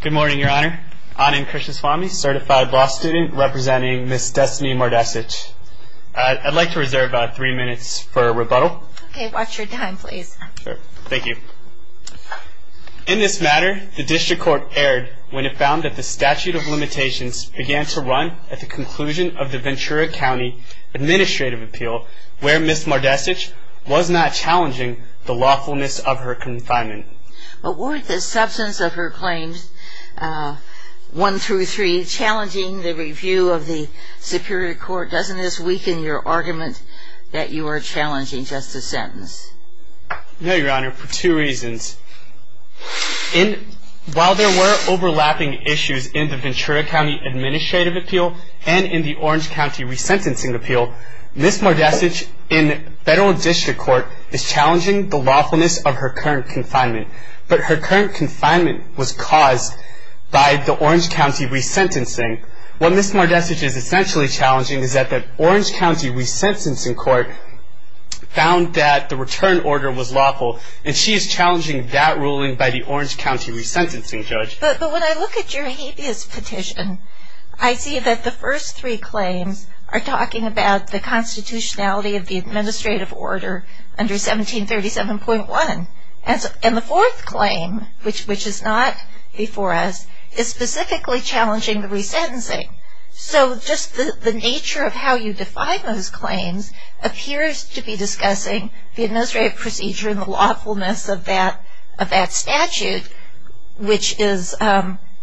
Good morning, Your Honor. Anand Krishnaswamy, certified law student representing Ms. Destinni Mardesich. I'd like to reserve three minutes for rebuttal. Okay, watch your time, please. Thank you. In this matter, the District Court erred when it found that the statute of limitations began to run at the conclusion of the Ventura County Administrative Appeal, where Ms. Mardesich was not challenging the lawfulness of her confinement. But weren't the substance of her claims, 1 through 3, challenging the review of the Superior Court? Doesn't this weaken your argument that you are challenging just a sentence? No, Your Honor, for two reasons. While there were overlapping issues in the Ventura County Administrative Appeal and in the Orange County Resentencing Appeal, Ms. Mardesich, in Federal District Court, is challenging the lawfulness of her current confinement. But her current confinement was caused by the Orange County Resentencing. What Ms. Mardesich is essentially challenging is that the Orange County Resentencing Court found that the return order was lawful, and she is challenging that ruling by the Orange County Resentencing Judge. But when I look at your habeas petition, I see that the first three claims are talking about the constitutionality of the administrative order under 1737.1. And the fourth claim, which is not before us, is specifically challenging the resentencing. So just the nature of how you define those claims appears to be discussing the administrative procedure and the lawfulness of that statute, which is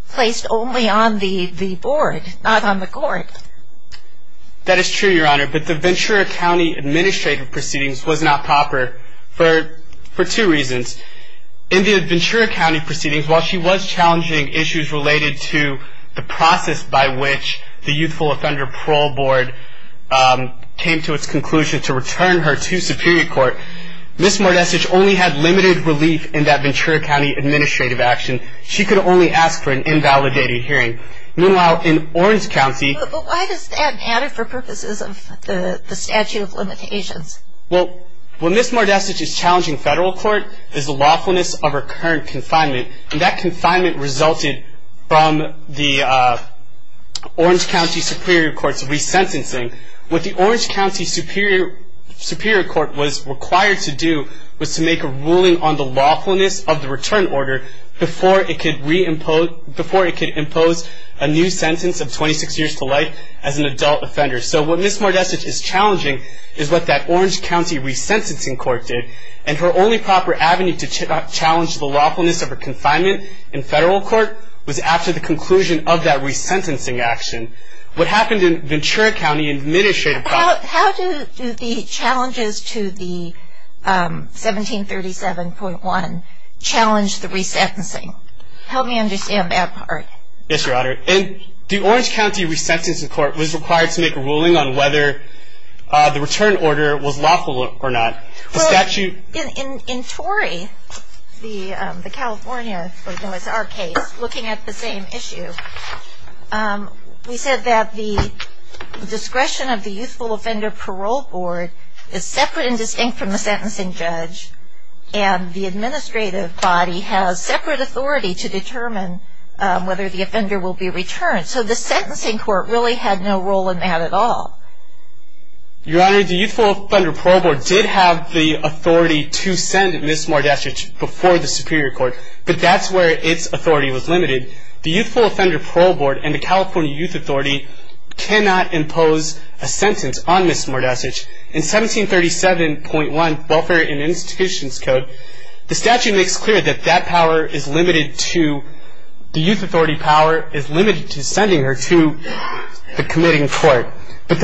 placed only on the board, not on the court. That is true, Your Honor, but the Ventura County Administrative Proceedings was not proper for two reasons. In the Ventura County Proceedings, while she was challenging issues related to the process by which the Youthful Offender Parole Board came to its conclusion to return her to Superior Court, Ms. Mardesich only had limited relief in that Ventura County administrative action. She could only ask for an invalidated hearing. Meanwhile, in Orange County... But why does that matter for purposes of the statute of limitations? Well, what Ms. Mardesich is challenging in federal court is the lawfulness of her current confinement. And that confinement resulted from the Orange County Superior Court's resentencing. What the Orange County Superior Court was required to do was to make a ruling on the lawfulness of the return order before it could impose a new sentence of 26 years to life as an adult offender. So what Ms. Mardesich is challenging is what that Orange County Resentencing Court did, and her only proper avenue to challenge the lawfulness of her confinement in federal court was after the conclusion of that resentencing action. What happened in Ventura County Administrative... How do the challenges to the 1737.1 challenge the resentencing? Help me understand that part. Yes, Your Honor. And the Orange County Resentencing Court was required to make a ruling on whether the return order was lawful or not. The statute... Well, in Torrey, the California, or it was our case, looking at the same issue, we said that the discretion of the Youthful Offender Parole Board is separate and distinct from the sentencing judge. And the administrative body has separate authority to determine whether the offender will be returned. So the sentencing court really had no role in that at all. Your Honor, the Youthful Offender Parole Board did have the authority to send Ms. Mardesich before the Superior Court, but that's where its authority was limited. The Youthful Offender Parole Board and the California Youth Authority cannot impose a sentence on Ms. Mardesich. In 1737.1, Welfare and Institutions Code, the statute makes clear that that power is limited to... The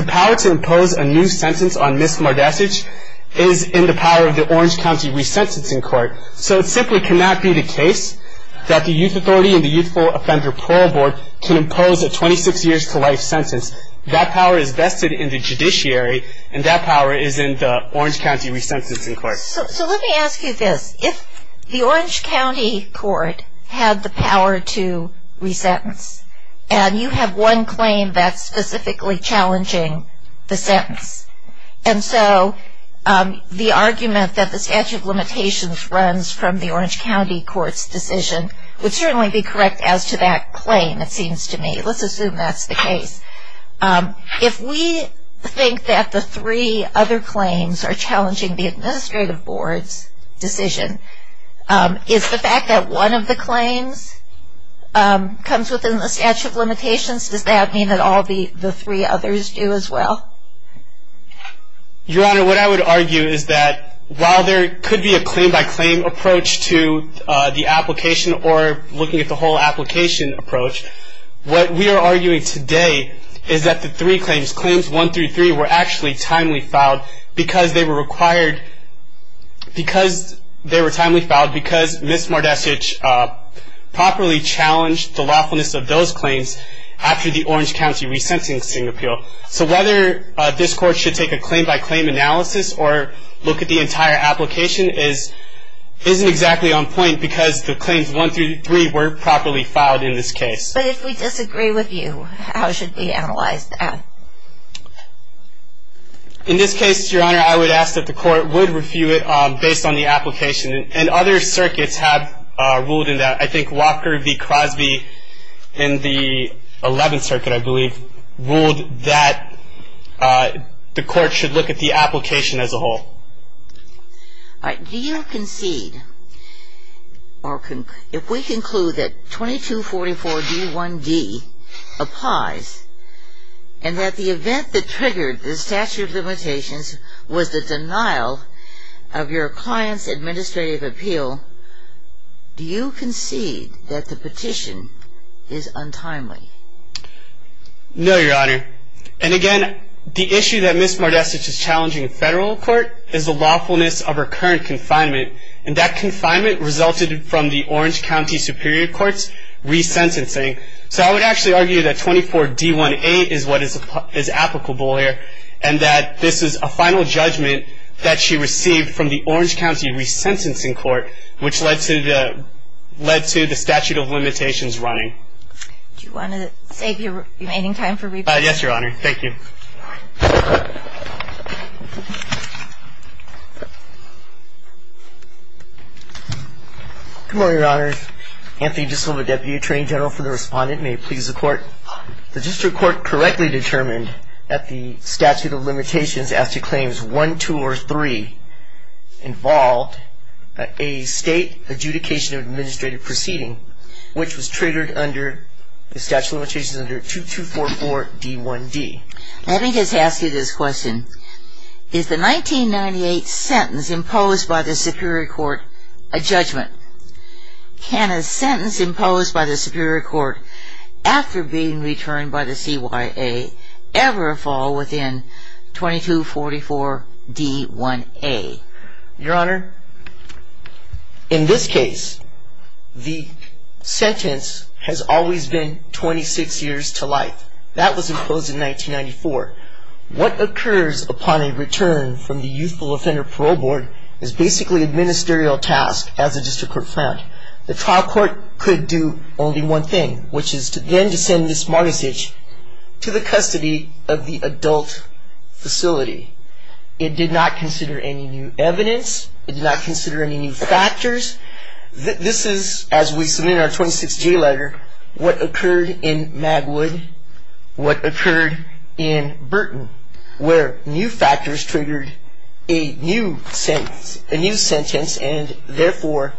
power to impose a new sentence on Ms. Mardesich is in the power of the Orange County Resentencing Court. So it simply cannot be the case that the Youth Authority and the Youthful Offender Parole Board can impose a 26 years to life sentence. That power is vested in the judiciary, and that power is in the Orange County Resentencing Court. So let me ask you this. If the Orange County Court had the power to resentence, and you have one claim that's specifically challenging the sentence, and so the argument that the statute of limitations runs from the Orange County Court's decision would certainly be correct as to that claim, it seems to me. Let's assume that's the case. If we think that the three other claims are challenging the administrative board's decision, is the fact that one of the claims comes within the statute of limitations, does that mean that all the three others do as well? Your Honor, what I would argue is that while there could be a claim-by-claim approach to the application or looking at the whole application approach, what we are arguing today is that the three claims, Claims 1 through 3, were actually timely filed because they were required, because they were timely filed because Ms. Mardesich properly challenged the lawfulness of those claims after the Orange County Resentencing Appeal. So whether this Court should take a claim-by-claim analysis or look at the entire application isn't exactly on point because the claims 1 through 3 weren't properly filed in this case. But if we disagree with you, how should we analyze that? In this case, Your Honor, I would ask that the Court would review it based on the application, and other circuits have ruled in that. I think Walker v. Crosby in the 11th Circuit, I believe, ruled that the Court should look at the application as a whole. All right. Do you concede, or if we conclude that 2244-D1-D applies, and that the event that triggered the statute of limitations was the denial of your client's administrative appeal, do you concede that the petition is untimely? No, Your Honor. And again, the issue that Ms. Mardesich is challenging in federal court is the lawfulness of her current confinement, and that confinement resulted from the Orange County Superior Court's resentencing. So I would actually argue that 24-D1-A is what is applicable here, and that this is a final judgment that she received from the Orange County Resentencing Court, which led to the statute of limitations running. Do you want to save your remaining time for rebuttal? Yes, Your Honor. Thank you. Good morning, Your Honor. Anthony Disilva, Deputy Attorney General for the Respondent, may it please the Court. The district court correctly determined that the statute of limitations as to claims 1, 2, or 3 involved a state adjudication of administrative proceeding, which was triggered under the statute of limitations under 2244-D1-D. Let me just ask you this question. Is the 1998 sentence imposed by the Superior Court a judgment? Can a sentence imposed by the Superior Court after being returned by the CYA ever fall within 2244-D1-A? Your Honor, in this case the sentence has always been 26 years to life. That was imposed in 1994. What occurs upon a return from the Youthful Offender Parole Board is basically a ministerial task as the district court found. The trial court could do only one thing, which is then to send this mortgagee to the custody of the adult facility. It did not consider any new evidence. It did not consider any new factors. This is, as we submit our 26-J letter, what occurred in Magwood, what occurred in Burton, where new factors triggered a new sentence, and therefore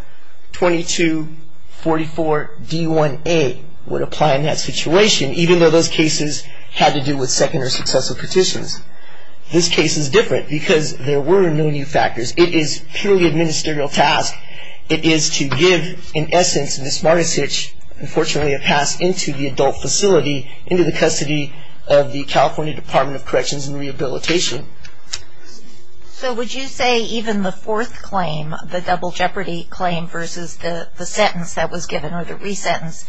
2244-D1-A would apply in that situation, even though those cases had to do with second or successful petitions. This case is different because there were no new factors. It is purely a ministerial task. It is to give, in essence, this mortgagee, which unfortunately had passed into the adult facility, into the custody of the California Department of Corrections and Rehabilitation. So would you say even the fourth claim, the double jeopardy claim, versus the sentence that was given, or the resentence,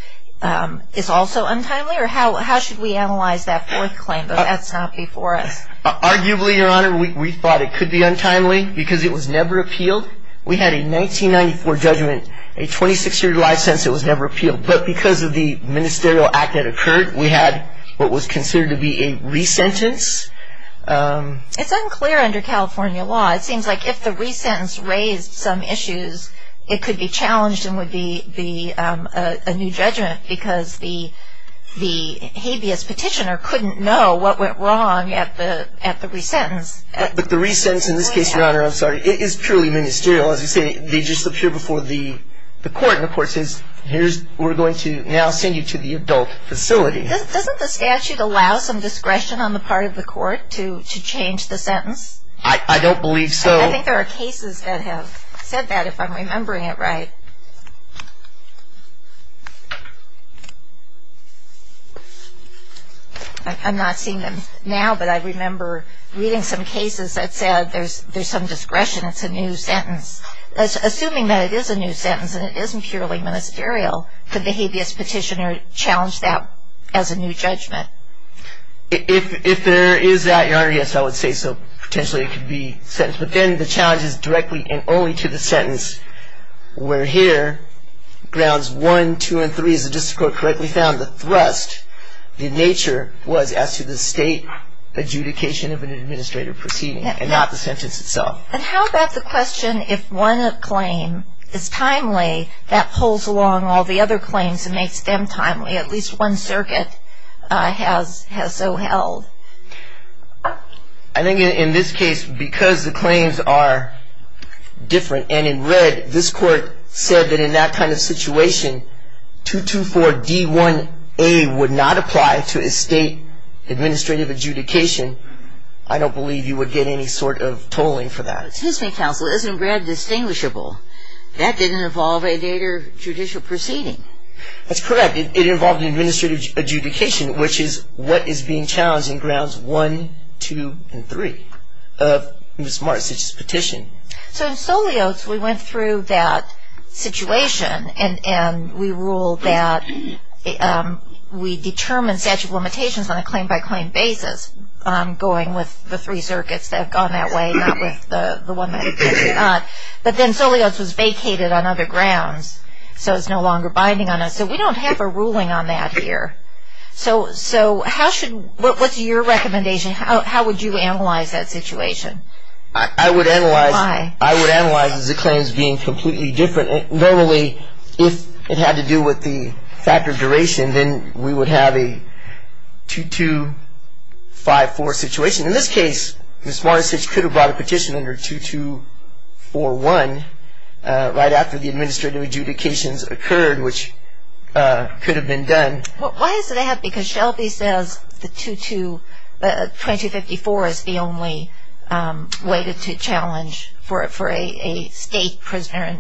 is also untimely? Or how should we analyze that fourth claim if that's not before us? Arguably, Your Honor, we thought it could be untimely because it was never appealed. We had a 1994 judgment, a 26-year license that was never appealed. But because of the ministerial act that occurred, we had what was considered to be a resentence. It's unclear under California law. It seems like if the resentence raised some issues, it could be challenged and would be a new judgment because the habeas petitioner couldn't know what went wrong at the resentence. But the resentence, in this case, Your Honor, I'm sorry, it is purely ministerial. As you say, they just appear before the court. And the court says, we're going to now send you to the adult facility. Doesn't the statute allow some discretion on the part of the court to change the sentence? I don't believe so. I think there are cases that have said that, if I'm remembering it right. I'm not seeing them now, but I remember reading some cases that said there's some discretion, it's a new sentence. Assuming that it is a new sentence and it isn't purely ministerial, could the habeas petitioner challenge that as a new judgment? If there is that, Your Honor, yes, I would say so. Potentially it could be sentenced. But then the challenge is directly and only to the sentence where here grounds 1, 2, and 3, as the district court correctly found, the thrust, the nature was as to the state adjudication of an administrative proceeding and not the sentence itself. And how about the question, if one claim is timely, that pulls along all the other claims and makes them timely. At least one circuit has so held. I think in this case, because the claims are different and in red, this court said that in that kind of situation, 224D1A would not apply to a state administrative adjudication. I don't believe you would get any sort of tolling for that. Excuse me, counsel, isn't red distinguishable? That didn't involve a later judicial proceeding. That's correct. It involved an administrative adjudication, which is what is being challenged in grounds 1, 2, and 3 of Ms. Martzich's petition. So in Solios, we went through that situation, and we ruled that we determined statute of limitations on a claim-by-claim basis going with the three circuits that have gone that way, not with the one that has not. But then Solios was vacated on other grounds, so it's no longer binding on us. Okay, so we don't have a ruling on that here. So what's your recommendation? How would you analyze that situation? I would analyze the claims being completely different. Normally, if it had to do with the factor of duration, then we would have a 2254 situation. In this case, Ms. Martzich could have brought a petition under 2241 right after the administrative adjudications occurred, which could have been done. Why is that? Because Shelby says the 2254 is the only way to challenge for a state prisoner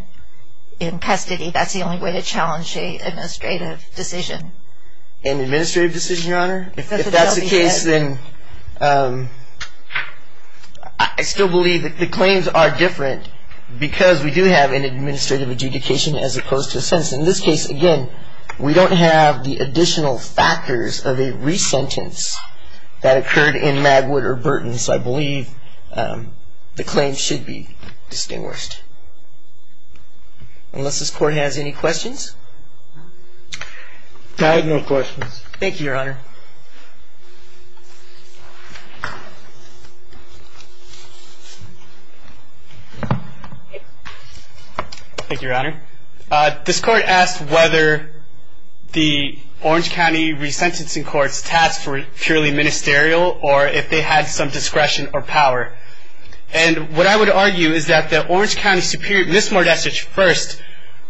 in custody. That's the only way to challenge an administrative decision. An administrative decision, Your Honor? If that's the case, then I still believe that the claims are different because we do have an administrative adjudication as opposed to a sentence. In this case, again, we don't have the additional factors of a resentence that occurred in Magwood or Burton, so I believe the claims should be distinguished. Unless this Court has any questions? I have no questions. Thank you, Your Honor. Thank you, Your Honor. This Court asked whether the Orange County resentencing courts tasked were purely ministerial or if they had some discretion or power. And what I would argue is that the Orange County Superior, Ms. Martzich first,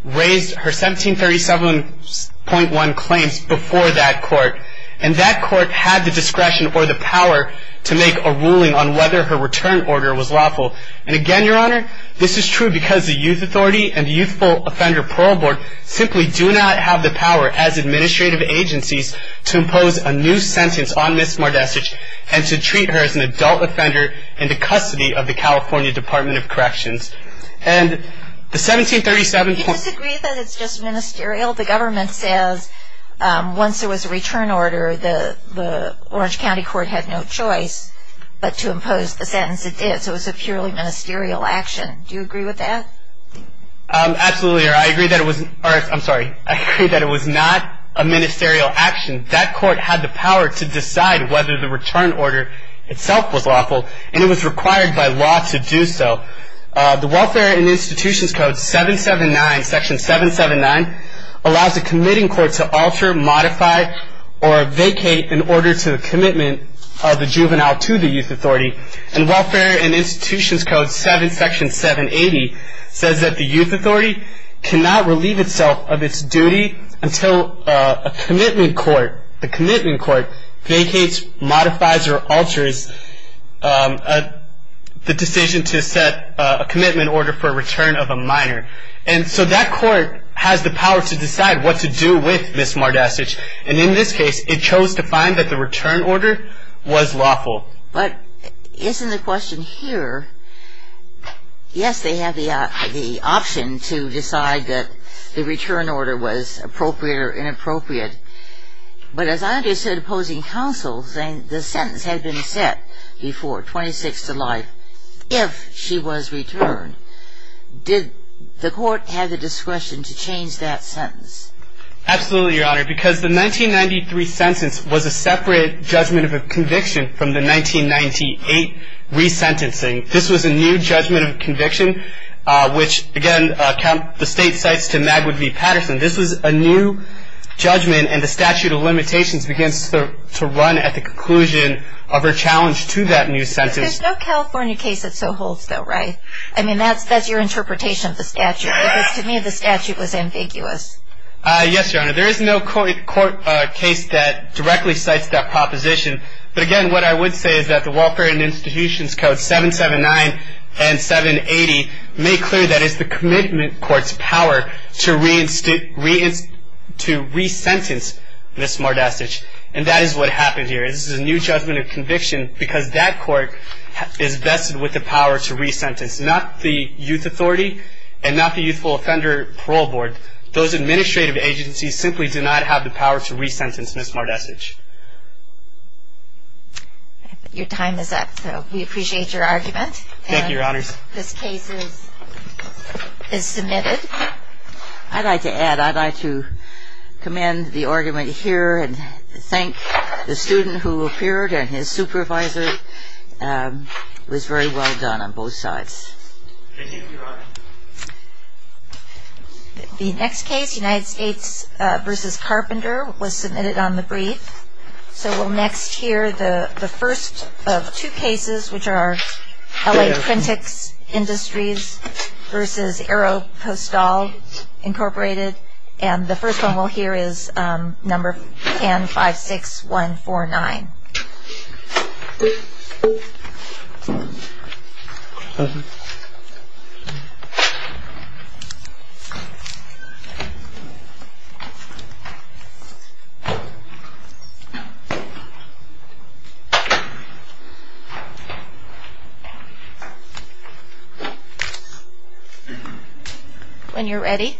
raised her 1737.1 claims before that Court, and that Court had the discretion or the power to make a ruling on whether her return order was lawful. And again, Your Honor, this is true because the Youth Authority and the Youthful Offender Parole Board simply do not have the power as administrative agencies to impose a new sentence on Ms. Martzich and to treat her as an adult offender in the custody of the California Department of Corrections. And the 1737... We disagree that it's just ministerial. The government says once there was a return order, the Orange County Court had no choice but to impose the sentence. It did, so it was a purely ministerial action. Do you agree with that? Absolutely, Your Honor. I agree that it was not a ministerial action. That Court had the power to decide whether the return order itself was lawful, and it was required by law to do so. The Welfare and Institutions Code 779, Section 779, allows the committing court to alter, modify, or vacate an order to the commitment of the juvenile to the Youth Authority. And Welfare and Institutions Code 7, Section 780, says that the Youth Authority cannot relieve itself of its duty until a commitment court vacates, modifies, or alters the decision to set a commitment order for a return of a minor. And so that court has the power to decide what to do with Ms. Martzich, and in this case, it chose to find that the return order was lawful. But isn't the question here, yes, they have the option to decide that the return order was appropriate or inappropriate, but as I understood opposing counsel saying the sentence had been set before 26 to life if she was returned, did the court have the discretion to change that sentence? Absolutely, Your Honor, because the 1993 sentence was a separate judgment of a conviction from the 1998 resentencing. This was a new judgment of conviction, which again, the state cites to Magwood v. Patterson. This was a new judgment, and the statute of limitations begins to run at the conclusion of her challenge to that new sentence. There's no California case that so holds, though, right? I mean, that's your interpretation of the statute, because to me the statute was ambiguous. Yes, Your Honor, there is no court case that directly cites that proposition. But again, what I would say is that the Welfare and Institutions Code 779 and 780 make clear that it's the commitment court's power to resentence Ms. Martzich, and that is what happened here. This is a new judgment of conviction because that court is vested with the power to resentence, not the Youth Authority and not the Youthful Offender Parole Board. Those administrative agencies simply do not have the power to resentence Ms. Martzich. Your time is up, so we appreciate your argument. Thank you, Your Honors. This case is submitted. I'd like to add, I'd like to commend the argument here and thank the student who appeared, and his supervisor was very well done on both sides. Thank you, Your Honor. The next case, United States v. Carpenter, was submitted on the brief. So we'll next hear the first of two cases, which are L.A. Printics Industries v. AeroPostal Incorporated, and the first one we'll hear is number 10-56149. Thank you. When you're ready. Thank you.